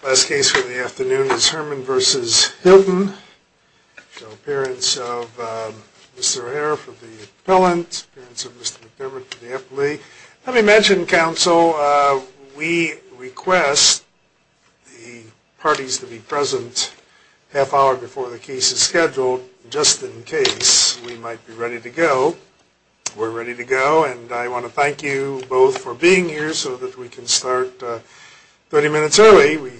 The last case for the afternoon is Herman v. Hilton, the appearance of Mr. Harreff of the appellant, the appearance of Mr. McDermott of the appellee. Let me mention, counsel, we request the parties to be present a half hour before the case is scheduled, just in case we might be ready to go. We're ready to go, and I want to thank you both for being here so that we can start 30 minutes early. We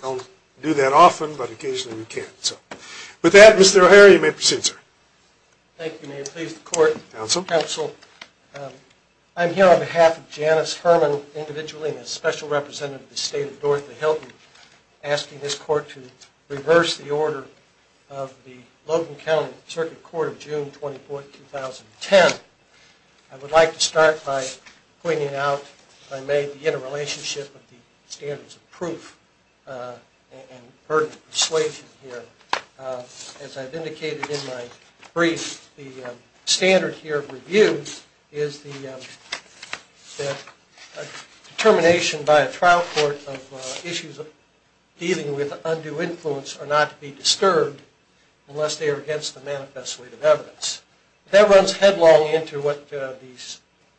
don't do that often, but occasionally we can. With that, Mr. Harreff, you may proceed, sir. Thank you. May it please the court. Counsel. Counsel. I'm here on behalf of Janice Herman, individually, and as special representative of the state of Northern Hilton, asking this court to reverse the order of the Logan County Circuit Court of June 24, 2010. I would like to start by pointing out that I may be in a relationship with the standards of proof and burden of persuasion here. As I've indicated in my brief, the standard here of review is the determination by a trial court of issues dealing with undue influence are not to be disturbed unless they are against the manifest weight of evidence. That runs headlong into what the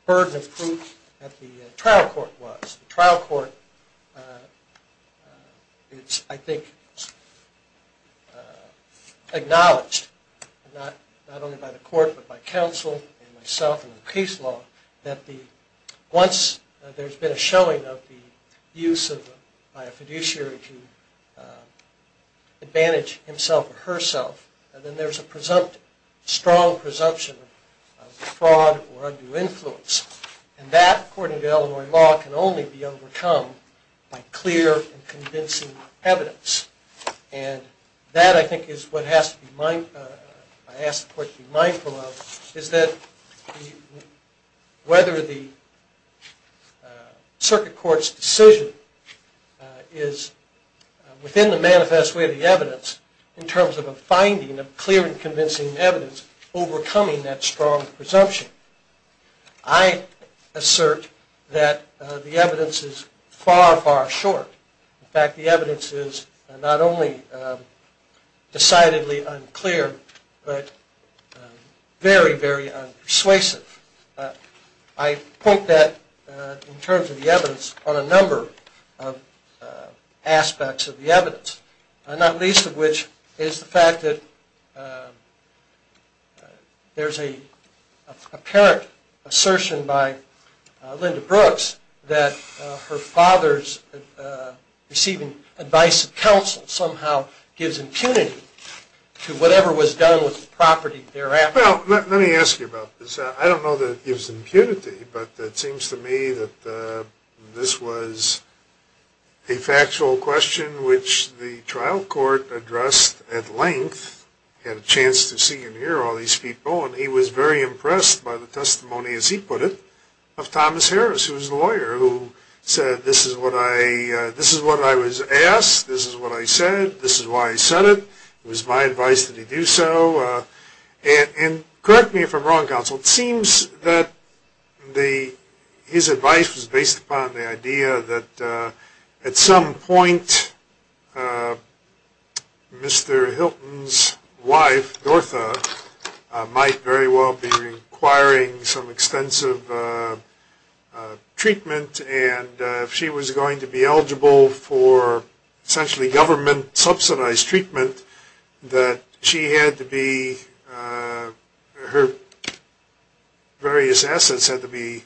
burden of proof at the trial court was. The trial court is, I think, acknowledged, not only by the court, but by counsel and myself and the case law, that once there's been a showing of the use by a fiduciary to advantage himself or herself, then there's a strong presumption of fraud or undue influence. And that, according to Illinois law, can only be overcome by clear and convincing evidence. And that, I think, is what I ask the court to be mindful of, is that whether the circuit court's decision is within the manifest weight of the evidence, in terms of a finding of clear and convincing evidence, overcoming that strong presumption. I assert that the evidence is far, far short. In fact, the evidence is not only decidedly unclear, but very, very unpersuasive. I point that, in terms of the evidence, on a number of aspects of the evidence, not least of which is the fact that there's an apparent assertion by Linda Brooks that her father's receiving advice and counsel somehow gives impunity to whatever was done with the property thereafter. Well, let me ask you about this. I don't know that it gives impunity, but it seems to me that this was a factual question which the trial court addressed at length. I had a chance to see and hear all these people, and he was very impressed by the testimony, as he put it, of Thomas Harris, who was the lawyer, who said, this is what I was asked, this is what I said, this is why I said it. It was my advice that he do so. And correct me if I'm wrong, counsel. It seems that his advice was based upon the idea that, at some point, Mr. Hilton's wife, Dortha, might very well be requiring some extensive treatment, and if she was going to be eligible for, essentially, government-subsidized treatment, that she had to be, her various assets had to be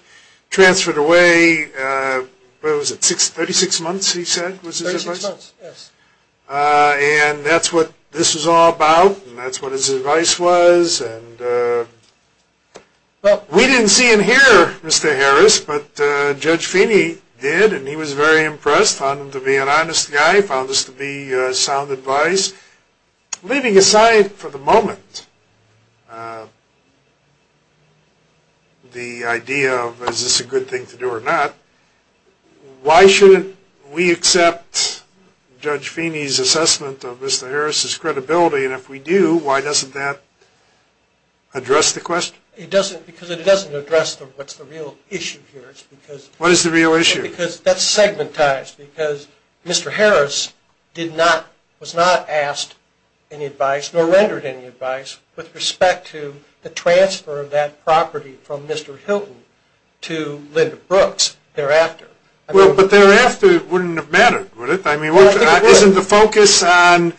transferred away, what was it, 36 months, he said, was his advice? 36 months, yes. And that's what this was all about, and that's what his advice was. Well, we didn't see and hear Mr. Harris, but Judge Feeney did, and he was very impressed, found him to be an honest guy, found this to be sound advice. Leaving aside, for the moment, the idea of is this a good thing to do or not, why shouldn't we accept Judge Feeney's assessment of Mr. Harris's credibility, and if we do, why doesn't that address the question? It doesn't, because it doesn't address what's the real issue here. What is the real issue? Because that's segmentized, because Mr. Harris did not, was not asked any advice, nor rendered any advice, with respect to the transfer of that property from Mr. Hilton to Linda Brooks thereafter. Well, but thereafter, it wouldn't have mattered, would it? I mean, isn't the focus on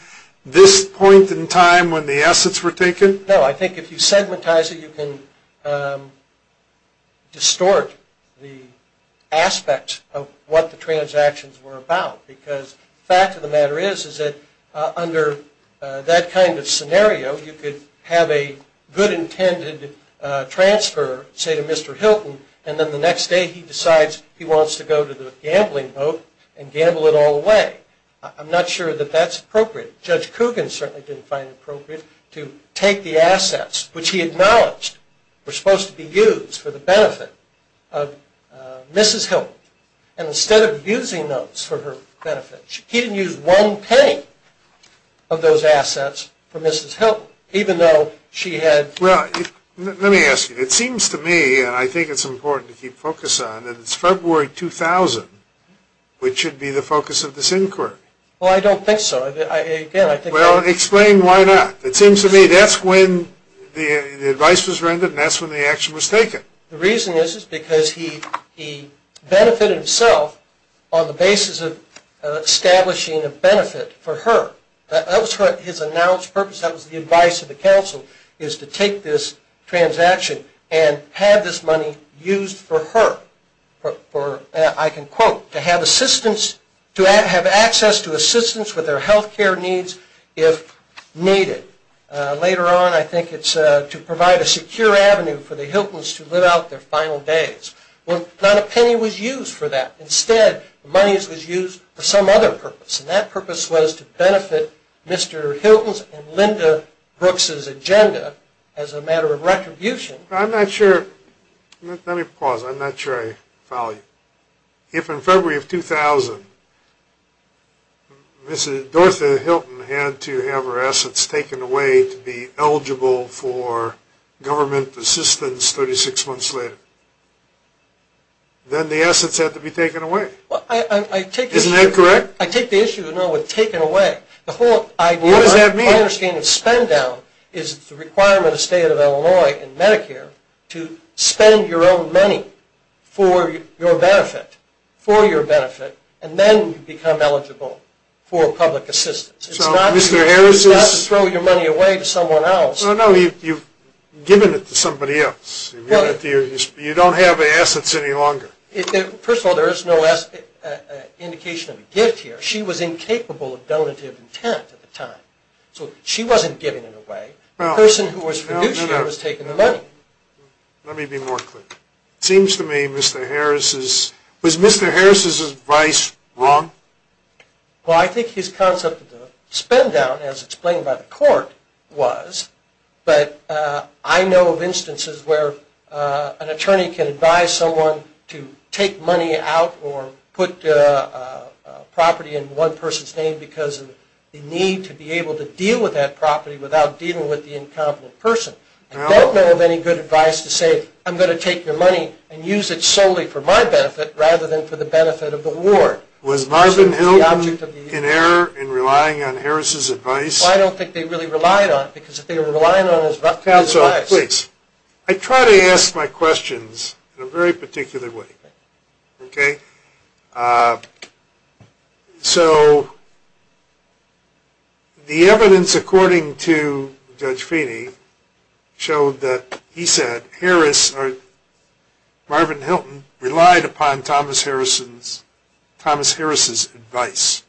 this point in time when the assets were taken? No, I think if you segmentize it, you can distort the aspect of what the transactions were about, because the fact of the matter is, is that under that kind of scenario, you could have a good intended transfer, say, to Mr. Hilton, and then the next day he decides he wants to go to the gambling boat and gamble it all away. I'm not sure that that's appropriate. Judge Coogan certainly didn't find it appropriate to take the assets, which he acknowledged were supposed to be used for the benefit of Mrs. Hilton, and instead of using those for her benefit, he didn't use one penny of those assets for Mrs. Hilton, even though she had... Well, let me ask you. It seems to me, and I think it's important to keep focus on, that it's February 2000 which should be the focus of this inquiry. Well, I don't think so. Again, I think... Well, explain why not. It seems to me that's when the advice was rendered and that's when the action was taken. The reason is, is because he benefited himself on the basis of establishing a benefit for her. That was his announced purpose. That was the advice of the counsel, is to take this transaction and have this money used for her, I can quote, to have assistance, to have access to assistance with her health care needs if needed. Later on, I think it's to provide a secure avenue for the Hiltons to live out their final days. Well, not a penny was used for that. Instead, the money was used for some other purpose, and that purpose was to benefit Mr. Hilton's and Linda Brooks' agenda as a matter of retribution. I'm not sure... If in February of 2000, Mrs. Dortha Hilton had to have her assets taken away to be eligible for government assistance 36 months later, then the assets had to be taken away. Isn't that correct? I take the issue, you know, with taken away. What does that mean? My understanding of spend-down is the requirement of the state of Illinois and Medicare to spend your own money for your benefit, for your benefit, and then become eligible for public assistance. So Mr. Harris is... It's not to throw your money away to someone else. No, no, you've given it to somebody else. You don't have the assets any longer. First of all, there is no indication of a gift here. She was incapable of donative intent at the time, so she wasn't giving it away. The person who was fiduciary was taking the money. Let me be more clear. It seems to me Mr. Harris is... Was Mr. Harris's advice wrong? Well, I think his concept of the spend-down, as explained by the court, was, but I know of instances where an attorney can advise someone to take money out or put a property in one person's name because of the need to be able to deal with that property without dealing with the incompetent person. I don't know of any good advice to say, I'm going to take your money and use it solely for my benefit rather than for the benefit of the ward. Was Marvin Hilton in error in relying on Harris's advice? I don't think they really relied on it because if they were relying on his rough cut advice... I try to ask my questions in a very particular way. Okay? So, the evidence according to Judge Feeney showed that he said Harris or Marvin Hilton relied upon Thomas Harris's advice.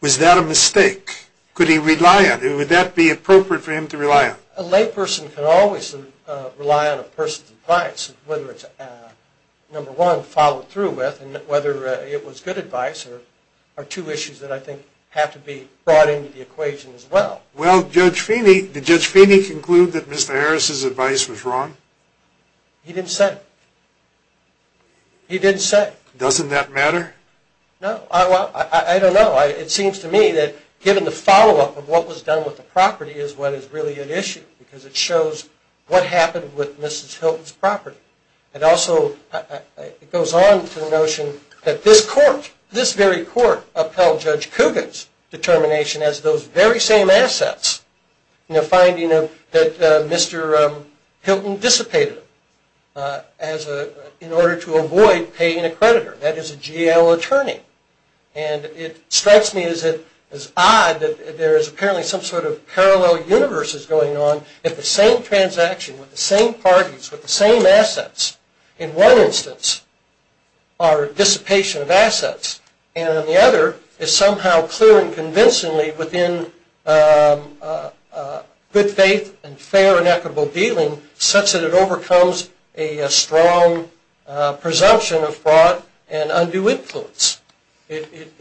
Was that a mistake? Could he rely on it? Would that be appropriate for him to rely on? A lay person can always rely on a person's advice, whether it's, number one, followed through with, and whether it was good advice are two issues that I think have to be brought into the equation as well. Well, Judge Feeney, did Judge Feeney conclude that Mr. Harris's advice was wrong? He didn't say. He didn't say. Doesn't that matter? No. Well, I don't know. It seems to me that given the follow-up of what was done with the property is what is really at issue because it shows what happened with Mrs. Hilton's property. It also goes on to the notion that this court, this very court, upheld Judge Kugin's determination as those very same assets in the finding that Mr. Hilton dissipated in order to avoid paying a creditor. That is a jail attorney. And it strikes me as odd that there is apparently some sort of parallel universe is going on if the same transaction with the same parties with the same assets, in one instance, are dissipation of assets, and in the other is somehow clear and convincingly within good faith and fair and equitable dealing such that it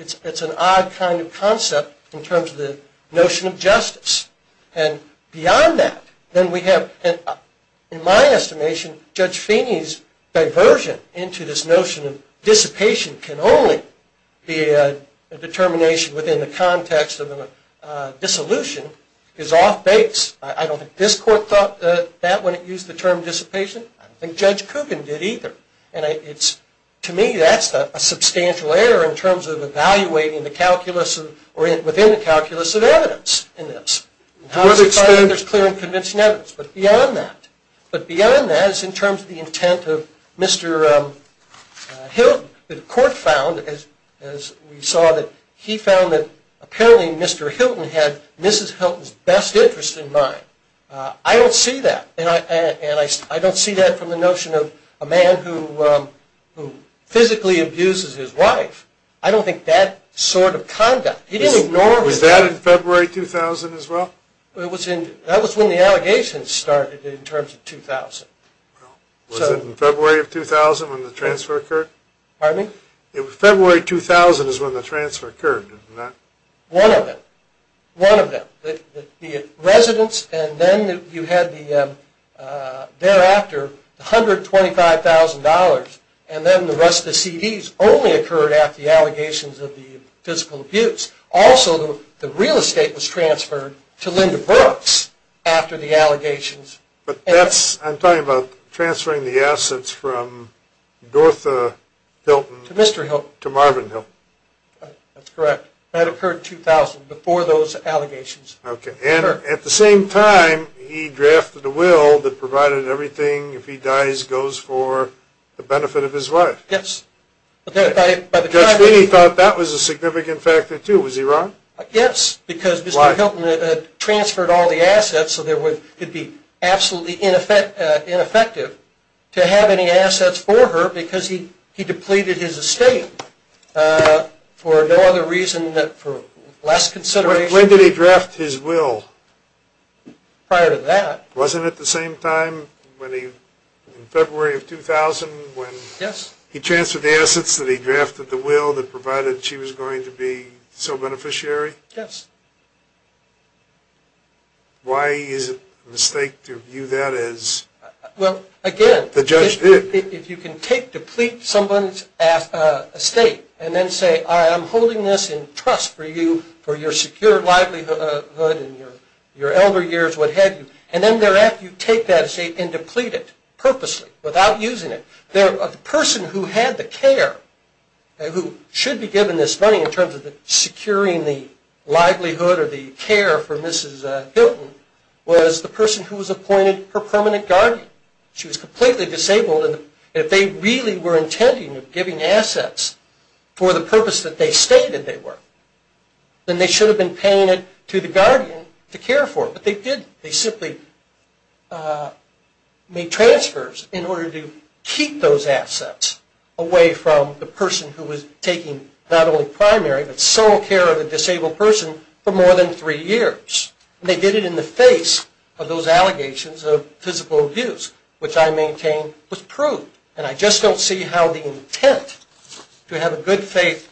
is an odd kind of concept in terms of the notion of justice. And beyond that, then we have, in my estimation, Judge Feeney's diversion into this notion of dissipation can only be a determination within the context of a dissolution is off base. I don't think this court thought that when it used the term dissipation. I don't think Judge Kugin did either. To me, that's a substantial error in terms of evaluating the calculus or within the calculus of evidence in this. How is it that there is clear and convincing evidence? But beyond that is in terms of the intent of Mr. Hilton. The court found, as we saw, that he found that apparently Mr. Hilton had Mrs. Hilton's best interest in mind. I don't see that. And I don't see that from the notion of a man who physically abuses his wife. I don't think that sort of conduct. He didn't ignore her. Was that in February 2000 as well? That was when the allegations started in terms of 2000. Was it in February of 2000 when the transfer occurred? Pardon me? February 2000 is when the transfer occurred, isn't that? One of them. One of them. The residence, and then you had thereafter $125,000, and then the rest of the CDs only occurred after the allegations of the physical abuse. Also, the real estate was transferred to Linda Brooks after the allegations. I'm talking about transferring the assets from Dortha Hilton to Marvin Hilton. That's correct. That occurred in 2000, before those allegations. Okay. And at the same time, he drafted a will that provided everything, if he dies, goes for the benefit of his wife. Yes. Judge Feeney thought that was a significant factor, too. Was he wrong? Yes. Why? Because Mr. Hilton had transferred all the assets, so it would be absolutely ineffective to have any assets for her because he When did he draft his will? Prior to that. Wasn't it the same time in February of 2000 when he transferred the assets that he drafted the will that provided she was going to be so beneficiary? Yes. Why is it a mistake to view that as the judge did? If you can take, deplete someone's estate and then say, I am holding this in trust for you for your secure livelihood and your elder years, what have you, and then thereafter you take that estate and deplete it purposely, without using it. The person who had the care, who should be given this money in terms of securing the livelihood or the care for Mrs. Hilton, was the person who was appointed her permanent guardian. She was completely disabled and if they really were intending on giving assets for the purpose that they stated they were, then they should have been paying it to the guardian to care for her, but they didn't. They simply made transfers in order to keep those assets away from the person who was taking not only primary but sole care of a disabled person for more than three years. They did it in the face of those allegations of physical abuse, which I maintain was proof, and I just don't see how the intent to have a good faith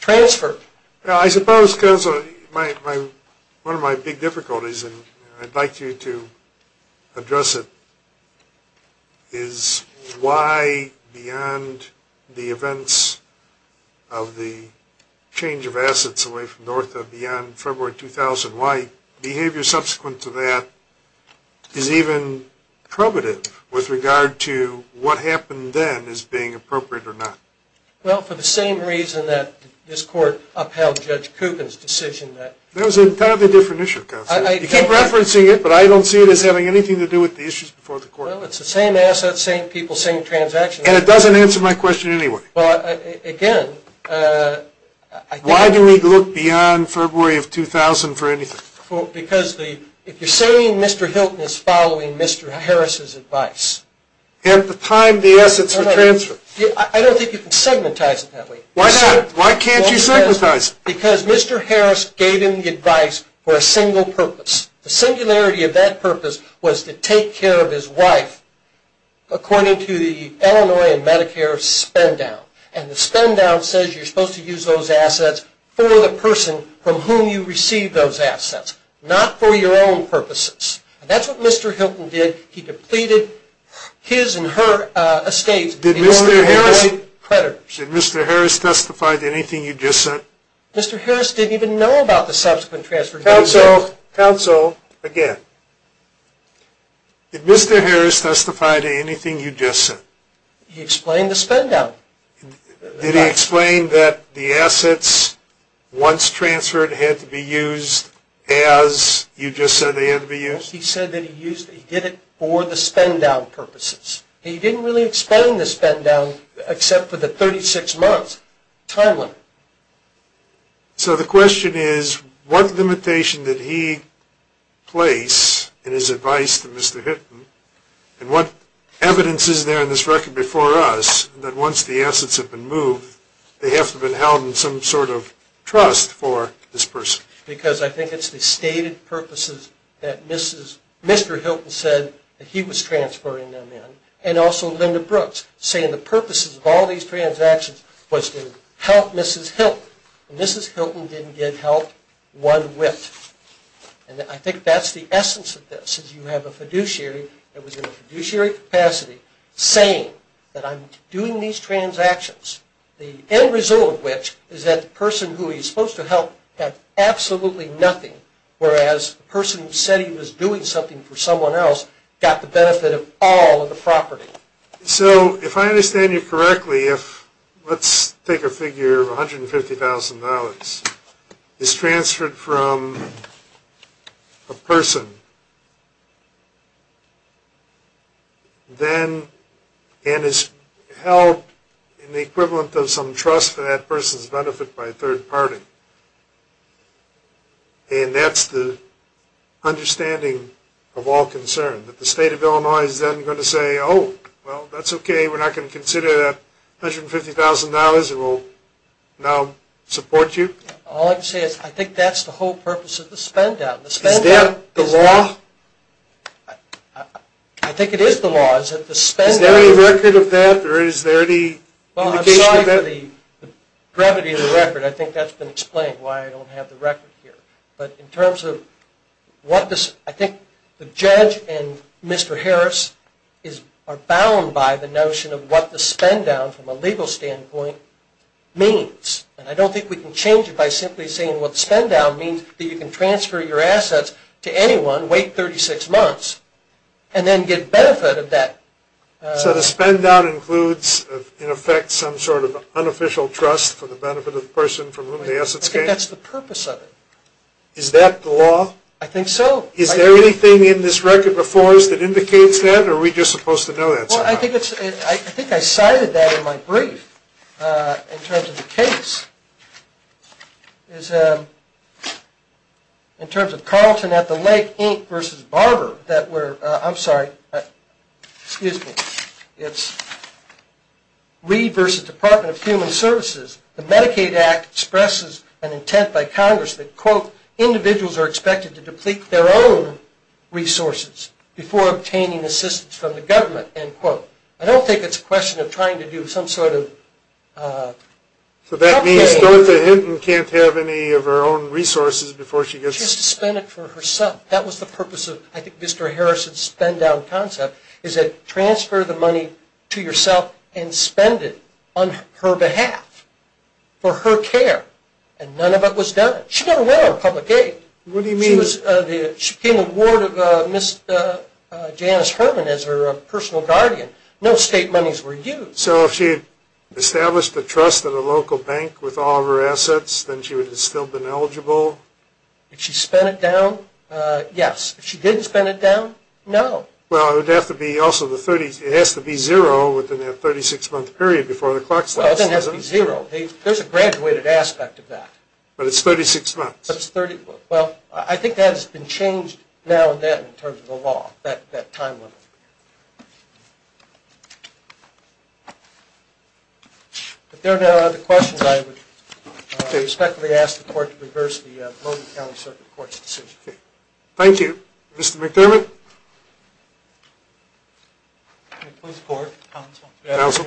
transfer. I suppose, because one of my big difficulties, and I'd like you to address it, is why beyond the events of the change of assets away from North, beyond February 2000, why behavior subsequent to that is even probative with regard to what happened then as being appropriate or not. Well, for the same reason that this court upheld Judge Coopen's decision. That was an entirely different issue, Counselor. You keep referencing it, but I don't see it as having anything to do with the issues before the court. Well, it's the same assets, same people, same transactions. And it doesn't answer my question anyway. Well, again. Why do we look beyond February of 2000 for anything? Because if you're saying Mr. Hilton is following Mr. Harris's advice. At the time the assets were transferred. I don't think you can segmentize it that way. Why not? Why can't you segmentize it? Because Mr. Harris gave him the advice for a single purpose. The singularity of that purpose was to take care of his wife, according to the Illinois and Medicare spend down. And the spend down says you're supposed to use those assets for the person from whom you receive those assets, not for your own purposes. That's what Mr. Hilton did. He depleted his and her estates. Did Mr. Harris testify to anything you just said? Mr. Harris didn't even know about the subsequent transfer. Counsel, Counsel, again. Did Mr. Harris testify to anything you just said? He explained the spend down. Did he explain that the assets once transferred had to be used as you just said they had to be used? He said that he did it for the spend down purposes. He didn't really explain the spend down except for the 36 months time limit. So the question is what limitation did he place in his advice to Mr. Hilton and what evidence is there in this record before us that once the assets have been moved, they have to have been held in some sort of trust for this person? Because I think it's the stated purposes that Mr. Hilton said that he was transferring them in and also Linda Brooks saying the purposes of all these transactions was to help Mrs. Hilton. Mrs. Hilton didn't get help one whiff. I think that's the essence of this. You have a fiduciary that was in a fiduciary capacity saying that I'm doing these transactions, the end result of which is that the person who he's supposed to help had absolutely nothing, whereas the person who said he was doing something for someone else got the benefit of all of the property. So if I understand you correctly, if let's take a figure of $150,000, is transferred from a person and is held in the equivalent of some trust for that person's benefit by a third party, and that's the understanding of all concern, that the state of Illinois is then going to say, oh, well, that's okay, we're not going to consider that $150,000, it will now support you? All I can say is I think that's the whole purpose of the spend-out. Is that the law? I think it is the law. Is there any record of that or is there any indication of that? As far as the brevity of the record, I think that's been explained why I don't have the record here. But in terms of what this, I think the judge and Mr. Harris are bound by the notion of what the spend-down, from a legal standpoint, means. And I don't think we can change it by simply saying what spend-down means, that you can transfer your assets to anyone, wait 36 months, and then get benefit of that. So the spend-down includes, in effect, some sort of unofficial trust for the benefit of the person from whom the assets came? I think that's the purpose of it. Is that the law? I think so. Is there anything in this record before us that indicates that, or are we just supposed to know that somehow? I think I cited that in my brief, in terms of the case. In terms of Carlton at the Lake Inc. v. Barber, I'm sorry, excuse me, it's Reed v. Department of Human Services, the Medicaid Act expresses an intent by Congress that, quote, individuals are expected to deplete their own resources before obtaining assistance from the government, end quote. I don't think it's a question of trying to do some sort of... So that means Dorothy Hinton can't have any of her own resources before she gets... She has to spend it for herself. That was the purpose of, I think, Mr. Harrison's spend-down concept, is that transfer the money to yourself and spend it on her behalf, for her care. And none of it was done. She didn't win on public aid. What do you mean? She became a ward of Ms. Janice Herman as her personal guardian. No state monies were used. So if she had established a trust at a local bank with all of her assets, then she would have still been eligible? If she spent it down? Yes. If she didn't spend it down? No. Well, it would have to be also the 30... It has to be zero within that 36-month period before the clock starts. Well, it doesn't have to be zero. There's a graduated aspect of that. But it's 36 months. Well, I think that has been changed now and then in terms of the law, that time limit. If there are no other questions, I would respectfully ask the court to reverse the Logan County Circuit Court's decision. Thank you. Mr. McDermott? Please report, counsel. Counsel.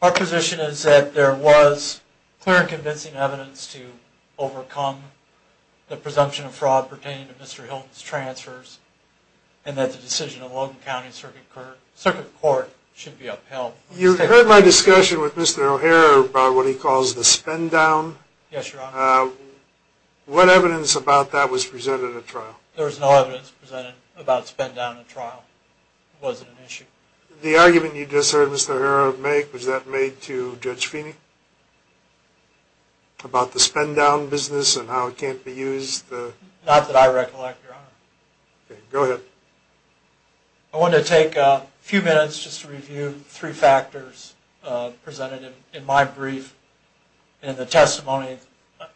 Our position is that there was clear and convincing evidence to overcome the presumption of fraud pertaining to Mr. Hilton's transfers and that the decision of Logan County Circuit Court should be upheld. You heard my discussion with Mr. O'Hara about what he calls the spend-down. Yes, Your Honor. What evidence about that was presented at trial? There was no evidence presented about spend-down at trial. It wasn't an issue. The argument you just heard Mr. O'Hara make, was that made to Judge Feeney? About the spend-down business and how it can't be used? Not that I recollect, Your Honor. Okay. Go ahead. I want to take a few minutes just to review three factors presented in my brief and the testimony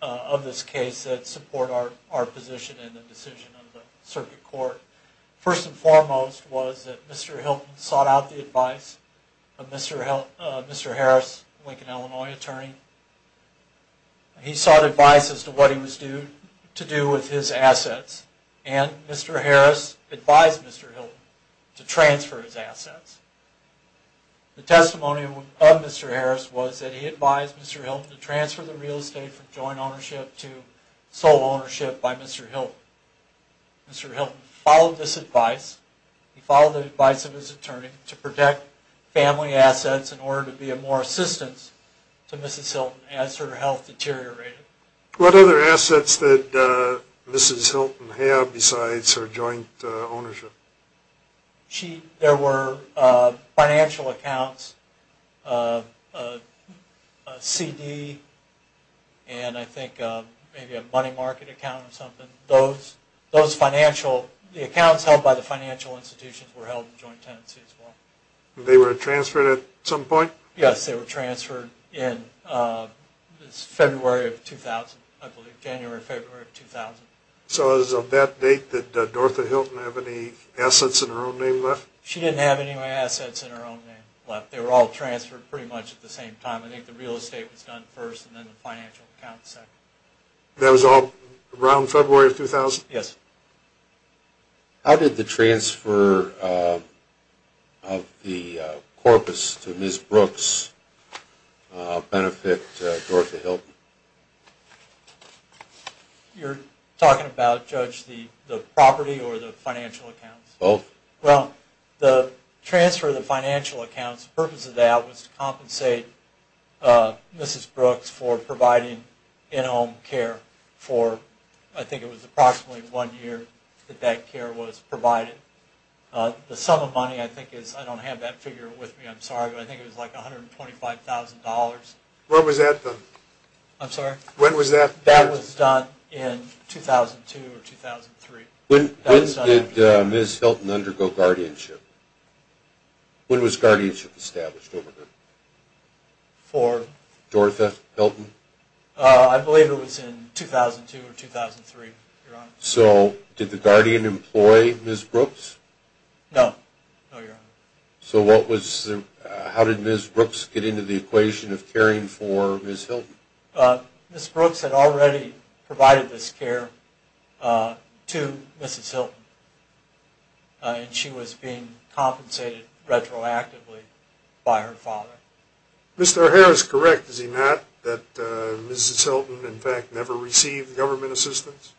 of this case that support our position in the decision of the Circuit Court. First and foremost was that Mr. Hilton sought out the advice of Mr. Harris, Lincoln, Illinois attorney. He sought advice as to what he was due to do with his assets and Mr. Harris advised Mr. Hilton to transfer his assets. The testimony of Mr. Harris was that he advised Mr. Hilton to transfer the real estate from joint ownership to sole ownership by Mr. Hilton. Mr. Hilton followed this advice. He followed the advice of his attorney to protect family assets in order to be of more assistance to Mrs. Hilton as her health deteriorated. What other assets did Mrs. Hilton have besides her joint ownership? There were financial accounts, a CD, and I think maybe a money market account or something. Those financial, the accounts held by the financial institutions were held in joint tenancy as well. They were transferred at some point? Yes, they were transferred in February of 2000, I believe, January, February of 2000. So is of that date that Dorotha Hilton have any assets in her own name left? She didn't have any assets in her own name left. They were all transferred pretty much at the same time. I think the real estate was done first and then the financial accounts second. That was all around February of 2000? Yes. How did the transfer of the corpus to Ms. Brooks benefit Dorotha Hilton? You're talking about, Judge, the property or the financial accounts? Both. Well, the transfer of the financial accounts, the purpose of that was to compensate Mrs. Brooks for providing in-home care for I think it was approximately one year that that care was provided. The sum of money I think is, I don't have that figure with me, I'm sorry, but I think it was like $125,000. When was that done? I'm sorry? When was that? That was done in 2002 or 2003. When did Ms. Hilton undergo guardianship? When was guardianship established over her? For? Dorotha Hilton? I believe it was in 2002 or 2003, Your Honor. So did the guardian employ Ms. Brooks? No. No, Your Honor. So how did Ms. Brooks get into the equation of caring for Ms. Hilton? Ms. Brooks had already provided this care to Mrs. Hilton, and she was being compensated retroactively by her father. Mr. O'Hara is correct, is he not, that Mrs. Hilton in fact never received government assistance?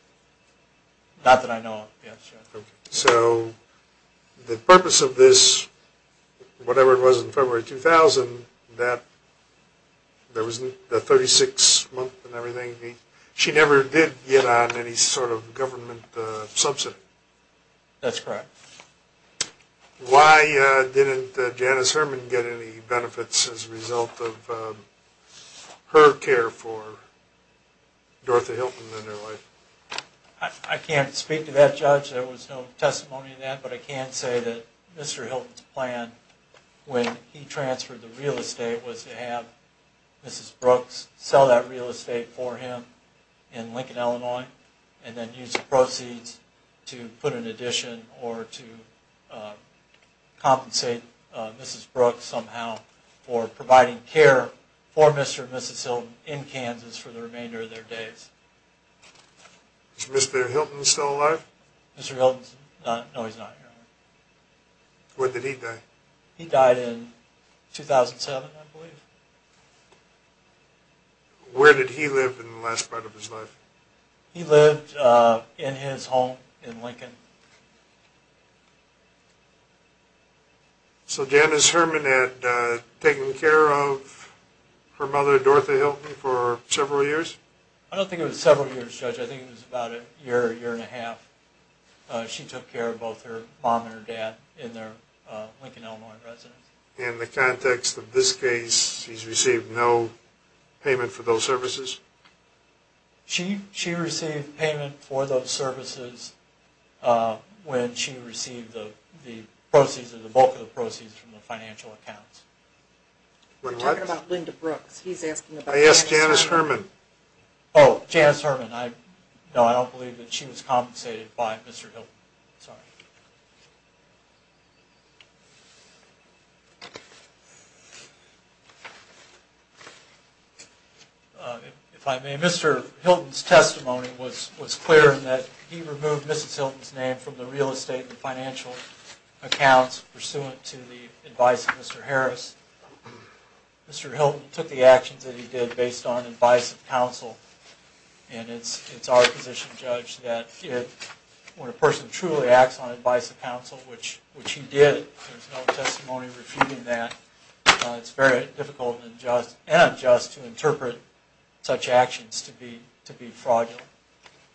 Not that I know of, yes, Your Honor. So the purpose of this, whatever it was in February 2000, that 36 month and everything, she never did get on any sort of government subsidy? That's correct. Why didn't Janice Herman get any benefits as a result of her care for Dorotha Hilton and her wife? I can't speak to that, Judge. There was no testimony to that. But I can say that Mr. Hilton's plan when he transferred the real estate was to have Mrs. Brooks sell that real estate for him in Lincoln, Illinois, and then use the proceeds to put an addition or to compensate Mrs. Brooks somehow for providing care for Mr. and Mrs. Hilton in Kansas for the remainder of their days. Is Mr. Hilton still alive? Mr. Hilton's not, no he's not, Your Honor. When did he die? He died in 2007, I believe. Where did he live in the last part of his life? He lived in his home in Lincoln. So Janice Herman had taken care of her mother, Dorotha Hilton, for several years? I don't think it was several years, Judge. I think it was about a year, year and a half. She took care of both her mom and her dad in their Lincoln, Illinois residence. In the context of this case, she's received no payment for those services? She received payment for those services when she received the proceeds or the bulk of the proceeds from the financial accounts. We're talking about Linda Brooks. He's asking about Janice Herman. Oh, Janice Herman. No, I don't believe that she was compensated by Mr. Hilton. Sorry. If I may, Mr. Hilton's testimony was clear in that he removed Mrs. Hilton's name from the real estate and financial accounts pursuant to the advice of Mr. Harris. Mr. Hilton took the actions that he did based on advice of counsel. And it's our position, Judge, that when a person truly acts on advice of counsel, which he did, there's no testimony refuting that. It's very difficult and unjust to interpret such actions to be fraudulent.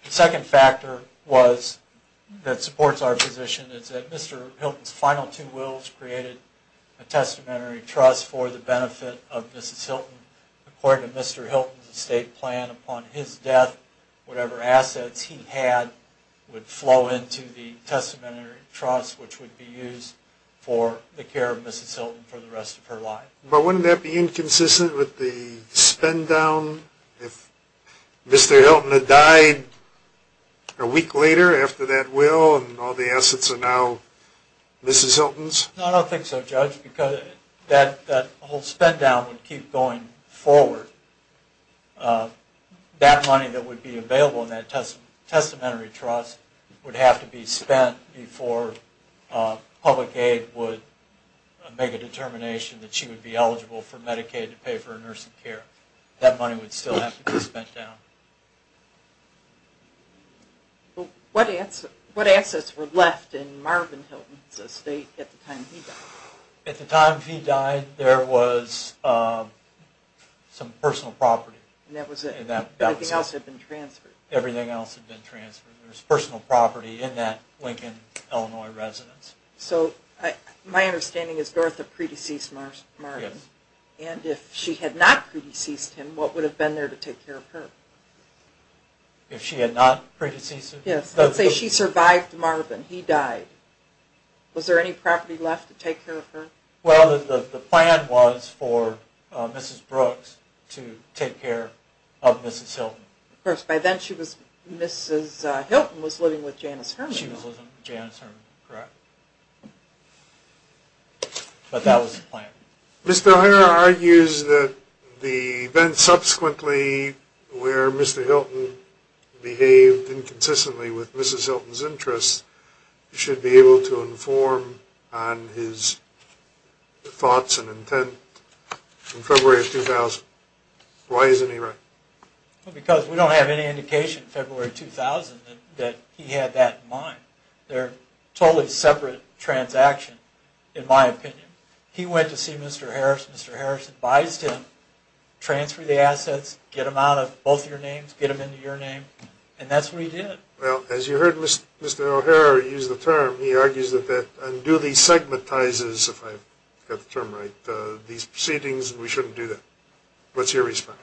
The second factor that supports our position is that Mr. Hilton's final two wills created a testamentary trust for the benefit of Mrs. Hilton. According to Mr. Hilton's estate plan, upon his death, whatever assets he had would flow into the testamentary trust, which would be used for the care of Mrs. Hilton for the rest of her life. But wouldn't that be inconsistent with the spend down if Mr. Hilton had died a week later after that will and all the assets are now Mrs. Hilton's? No, I don't think so, Judge, because that whole spend down would keep going forward. That money that would be available in that testamentary trust would have to be spent before public aid would make a determination that she would be eligible for Medicaid to pay for her nursing care. That money would still have to be spent down. What assets were left in Marvin Hilton's estate at the time he died? At the time he died, there was some personal property. Everything else had been transferred? Everything else had been transferred. There was personal property in that Lincoln, Illinois residence. My understanding is that Dorotha pre-deceased Marvin, and if she had not pre-deceased him, what would have been there to take care of her? If she had not pre-deceased him? Yes, let's say she survived Marvin, he died. Was there any property left to take care of her? Well, the plan was for Mrs. Brooks to take care of Mrs. Hilton. Of course, by then Mrs. Hilton was living with Janice Herman. Correct. But that was the plan. Mr. O'Hara argues that the events subsequently where Mr. Hilton behaved inconsistently with Mrs. Hilton's interests should be able to inform on his thoughts and intent in February of 2000. Why isn't he right? Because we don't have any indication in February 2000 that he had that in mind. They're totally separate transactions, in my opinion. He went to see Mr. Harris, Mr. Harris advised him, transfer the assets, get them out of both your names, get them into your name, and that's what he did. Well, as you heard Mr. O'Hara use the term, he argues that that unduly segmentizes, if I've got the term right, these proceedings, we shouldn't do that. What's your response?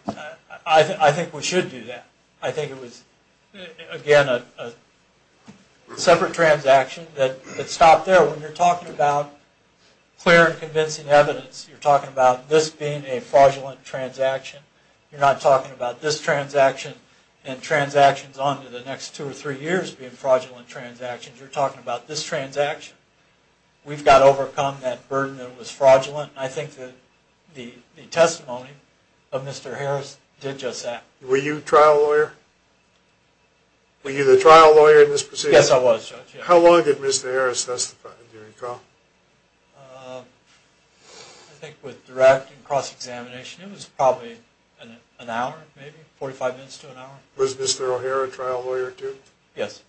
I think we should do that. I think it was, again, a separate transaction that stopped there. When you're talking about clear and convincing evidence, you're talking about this being a fraudulent transaction. You're not talking about this transaction and transactions on to the next two or three years being fraudulent transactions. You're talking about this transaction. We've got to overcome that burden that was fraudulent. I think that the testimony of Mr. Harris did just that. Were you a trial lawyer? Were you the trial lawyer in this proceeding? Yes, I was, Judge. How long did Mr. Harris testify, do you recall? I think with direct and cross-examination, it was probably an hour, maybe, 45 minutes to an hour. Was Mr. O'Hara a trial lawyer, too? Yes.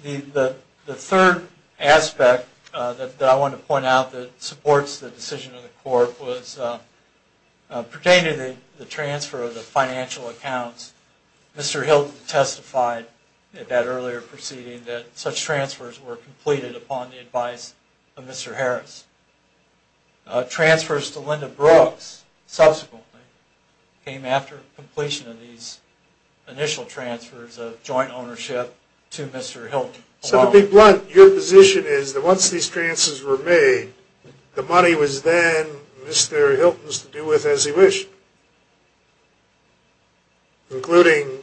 Okay. The third aspect that I want to point out that supports the decision of the court was pertaining to the transfer of the financial accounts. Mr. Hilton testified at that earlier proceeding that such transfers were completed upon the advice of Mr. Harris. Transfers to Linda Brooks subsequently came after completion of these initial transfers of joint ownership to Mr. Hilton. So to be blunt, your position is that once these transfers were made, the money was then Mr. Hilton's to do with as he wished, including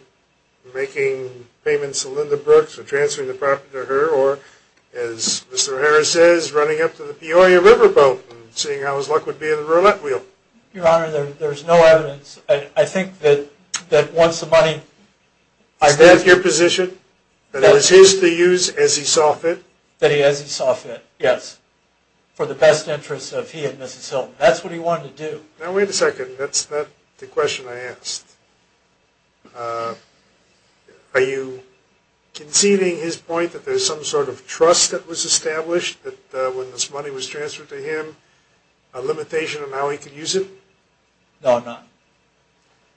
making payments to Linda Brooks or transferring the property to her, or, as Mr. Harris says, running up to the Peoria Riverboat and seeing how his luck would be in the roulette wheel. Your Honor, there's no evidence. I think that once the money… Is that your position, that it was his to use as he saw fit? That he as he saw fit, yes, for the best interests of he and Mrs. Hilton. That's what he wanted to do. Now, wait a second. That's not the question I asked. Are you conceding his point that there's some sort of trust that was established that when this money was transferred to him, a limitation on how he could use it? No, I'm not.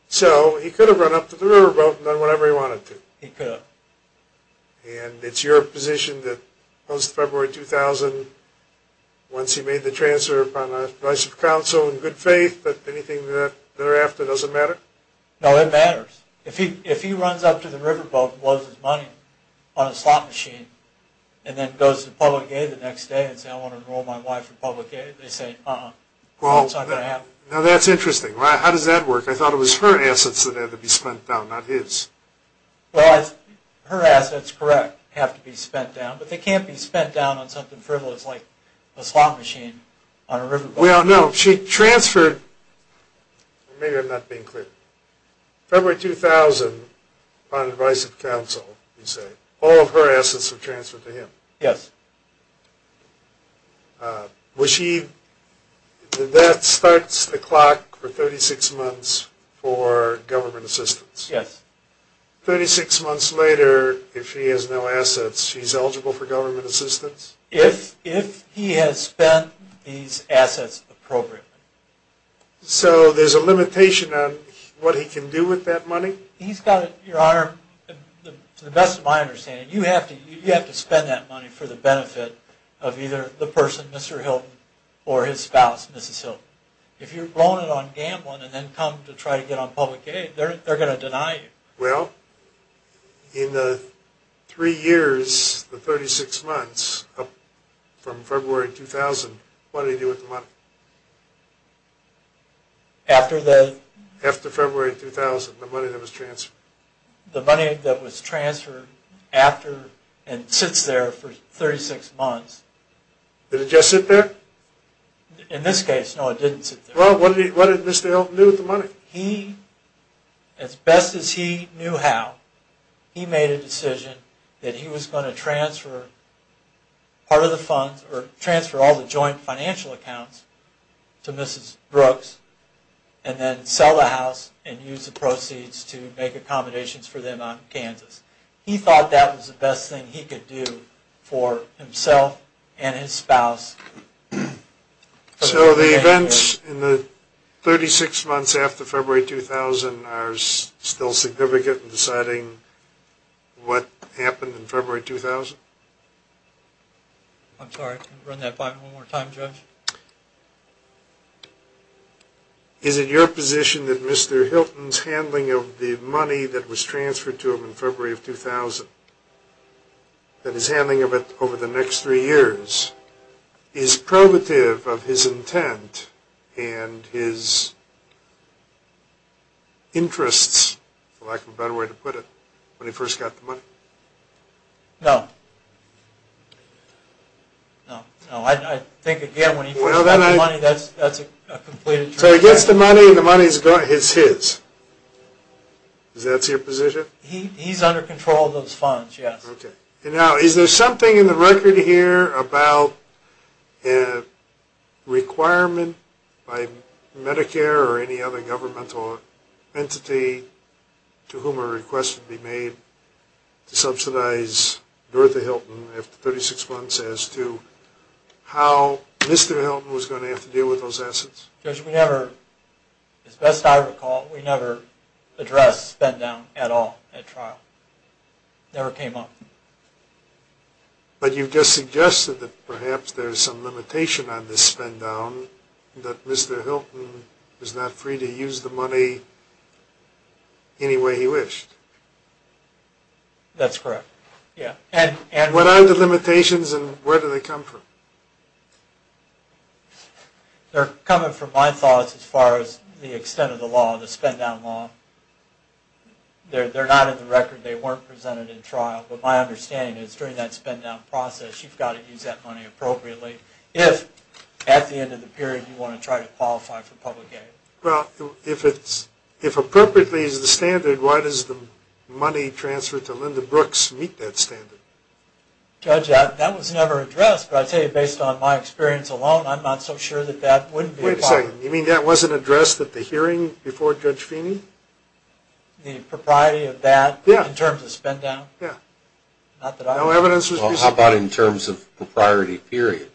So he could have run up to the riverboat and done whatever he wanted to. He could have. And it's your position that post-February 2000, once he made the transfer upon the advice of counsel and good faith, that anything thereafter doesn't matter? No, it matters. If he runs up to the riverboat and blows his money on a slot machine, and then goes to public aid the next day and says, I want to enroll my wife in public aid, they say, uh-uh. That's not going to happen. Now that's interesting. How does that work? I thought it was her assets that had to be spent down, not his. Well, her assets, correct, have to be spent down. But they can't be spent down on something frivolous like a slot machine on a riverboat. Well, no. She transferred, maybe I'm not being clear, February 2000, upon advice of counsel, you say, all of her assets were transferred to him. Yes. That starts the clock for 36 months for government assistance. Yes. 36 months later, if he has no assets, he's eligible for government assistance? If he has spent these assets appropriately. So there's a limitation on what he can do with that money? He's got to, Your Honor, to the best of my understanding, you have to spend that money for the benefit of either the person, Mr. Hilton, or his spouse, Mrs. Hilton. If you're blowing it on gambling and then come to try to get on public aid, they're going to deny you. Well, in the three years, the 36 months, from February 2000, what did he do with the money? After the... After February 2000, the money that was transferred. The money that was transferred after and sits there for 36 months. Did it just sit there? In this case, no, it didn't sit there. Well, what did Mr. Hilton do with the money? If he, as best as he knew how, he made a decision that he was going to transfer part of the funds or transfer all the joint financial accounts to Mrs. Brooks and then sell the house and use the proceeds to make accommodations for them out in Kansas. He thought that was the best thing he could do for himself and his spouse. So the events in the 36 months after February 2000 are still significant in deciding what happened in February 2000? I'm sorry. Run that one more time, Judge. Is it your position that Mr. Hilton's handling of the money that was transferred to him in February of 2000, that his handling of it over the next three years, is probative of his intent and his interests, for lack of a better way to put it, when he first got the money? No. No, I think, again, when he first got the money, that's a complete... So he gets the money, the money is his. Is that your position? He's under control of those funds, yes. Okay. Now, is there something in the record here about a requirement by Medicare or any other governmental entity to whom a request would be made to subsidize Northa Hilton after 36 months as to how Mr. Hilton was going to have to deal with those assets? Judge, we never, as best I recall, we never addressed spend down at all at trial. It never came up. But you just suggested that perhaps there's some limitation on this spend down, that Mr. Hilton is not free to use the money any way he wished. That's correct, yeah. What are the limitations and where do they come from? They're coming from my thoughts as far as the extent of the law, the spend down law. They're not in the record. They weren't presented in trial. But my understanding is during that spend down process, you've got to use that money appropriately if at the end of the period you want to try to qualify for public aid. Well, if appropriately is the standard, why does the money transferred to Linda Brooks meet that standard? Judge, that was never addressed. But I tell you, based on my experience alone, I'm not so sure that that wouldn't be a problem. Wait a second. You mean that wasn't addressed at the hearing before Judge Feeney? The propriety of that in terms of spend down? Yeah. Not that I know of. Well, how about in terms of the priority period?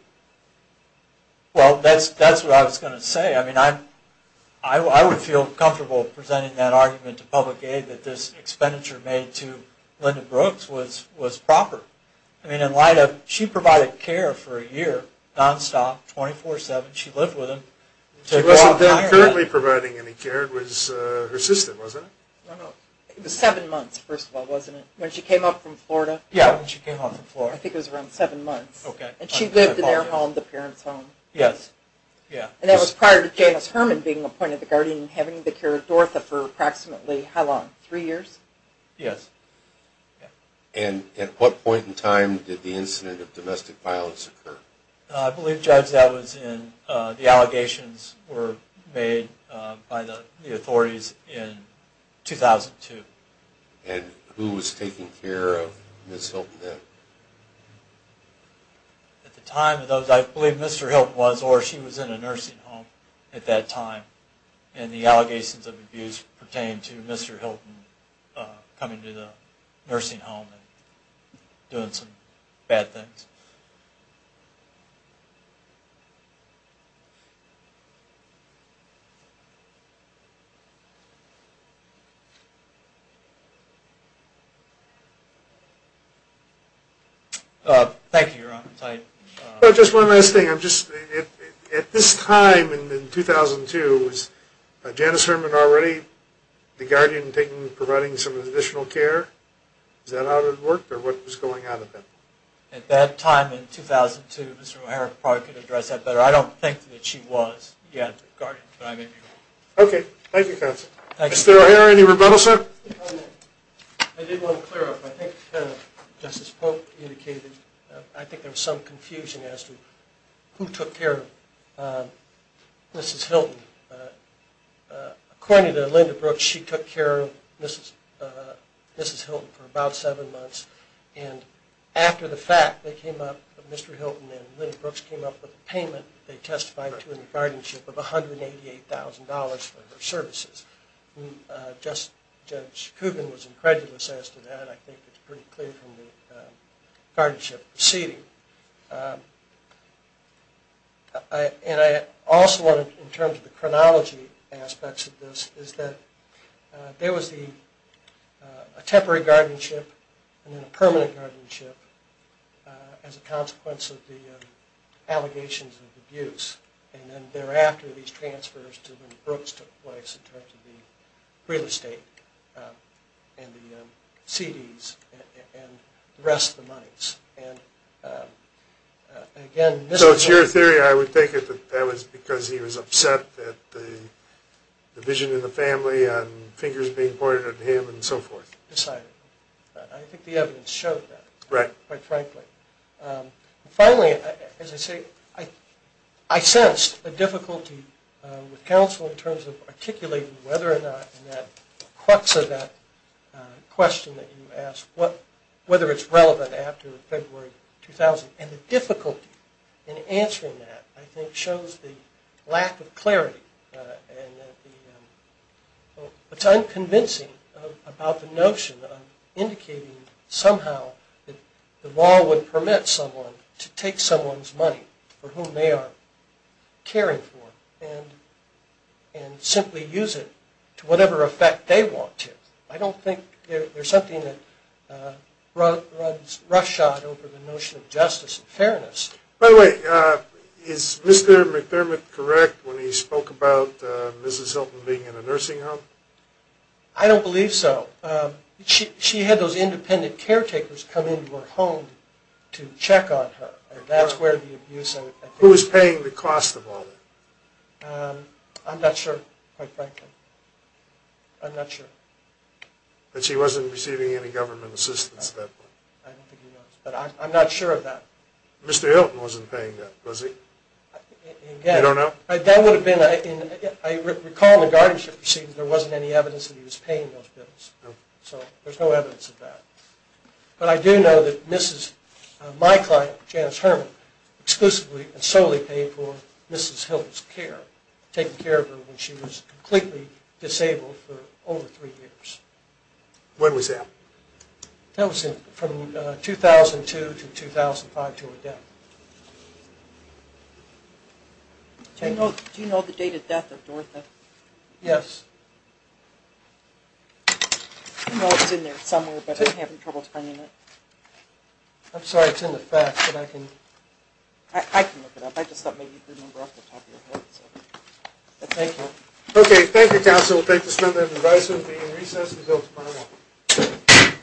Well, that's what I was going to say. I mean, I would feel comfortable presenting that argument to public aid that this expenditure made to Linda Brooks was proper. I mean, in light of she provided care for a year, nonstop, 24-7. She lived with him. She wasn't then currently providing any care. It was her sister, wasn't it? No, no. It was seven months, first of all, wasn't it, when she came up from Florida? Yeah, when she came up from Florida. I think it was around seven months. Okay. And she lived in their home, the parents' home. Yes. Yeah. And that was prior to Janice Herman being appointed the guardian and having the care of Dortha for approximately how long, three years? Yes. Okay. And at what point in time did the incident of domestic violence occur? I believe, Judge, that was in the allegations were made by the authorities in 2002. And who was taking care of Ms. Hilton then? At the time, I believe Mr. Hilton was, or she was in a nursing home at that time. And the allegations of abuse pertain to Mr. Hilton coming to the nursing home and doing some bad things. Just one last thing. At this time in 2002, was Janice Herman already the guardian providing some additional care? Is that how it worked, or what was going on at that time? At that time in 2002, Mr. O'Hara probably could address that better. I don't think that she was yet the guardian, but I may be wrong. Thank you, Counsel. Mr. O'Hara, any rebuttals, sir? I did want to clear up. I think Justice Polk indicated, I think there was some confusion as to who took care of Mrs. Hilton. According to Linda Brooks, she took care of Mrs. Hilton for about seven months. And after the fact, they came up, Mr. Hilton and Linda Brooks came up with a payment they testified to in the guardianship of $188,000 for her services. Judge Coogan was incredulous as to that. I think it's pretty clear from the guardianship proceeding. And I also want to, in terms of the chronology aspects of this, is that there was a temporary guardianship and then a permanent guardianship as a consequence of the allegations of abuse. And then thereafter these transfers to when Brooks took place in terms of the real estate and the CDs and the rest of the monies. So it's your theory, I would take it, that that was because he was upset that the vision of the family and fingers being pointed at him and so forth. I think the evidence showed that, quite frankly. Finally, as I say, I sensed a difficulty with counsel in terms of articulating whether or not in that crux of that question that you asked, whether it's relevant after February 2000. And the difficulty in answering that, I think, shows the lack of clarity. And that it's unconvincing about the notion of indicating somehow that the law would permit someone to take someone's money for whom they are caring for and simply use it to whatever effect they want to. I don't think there's something that runs roughshod over the notion of justice and fairness. By the way, is Mr. McDermott correct when he spoke about Mrs. Hilton being in a nursing home? I don't believe so. She had those independent caretakers come into her home to check on her. And that's where the abuse... Who was paying the cost of all that? I'm not sure, quite frankly. I'm not sure. But she wasn't receiving any government assistance at that point. I'm not sure of that. Mr. Hilton wasn't paying that, was he? You don't know? I recall in the guardianship proceedings there wasn't any evidence that he was paying those bills. So there's no evidence of that. But I do know that my client, Janice Herman, exclusively and solely paid for Mrs. Hilton's care, taking care of her when she was completely disabled for over three years. When was that? That was from 2002 to 2005, to her death. Do you know the date of death of Dorotha? Yes. I know it's in there somewhere, but I'm having trouble finding it. I'm sorry, it's in the facts, but I can... I can look it up. I just thought maybe you could remember off the top of your head. Thank you. Okay, thank you, counsel. We'll take this moment of advice. We'll be in recess until tomorrow morning.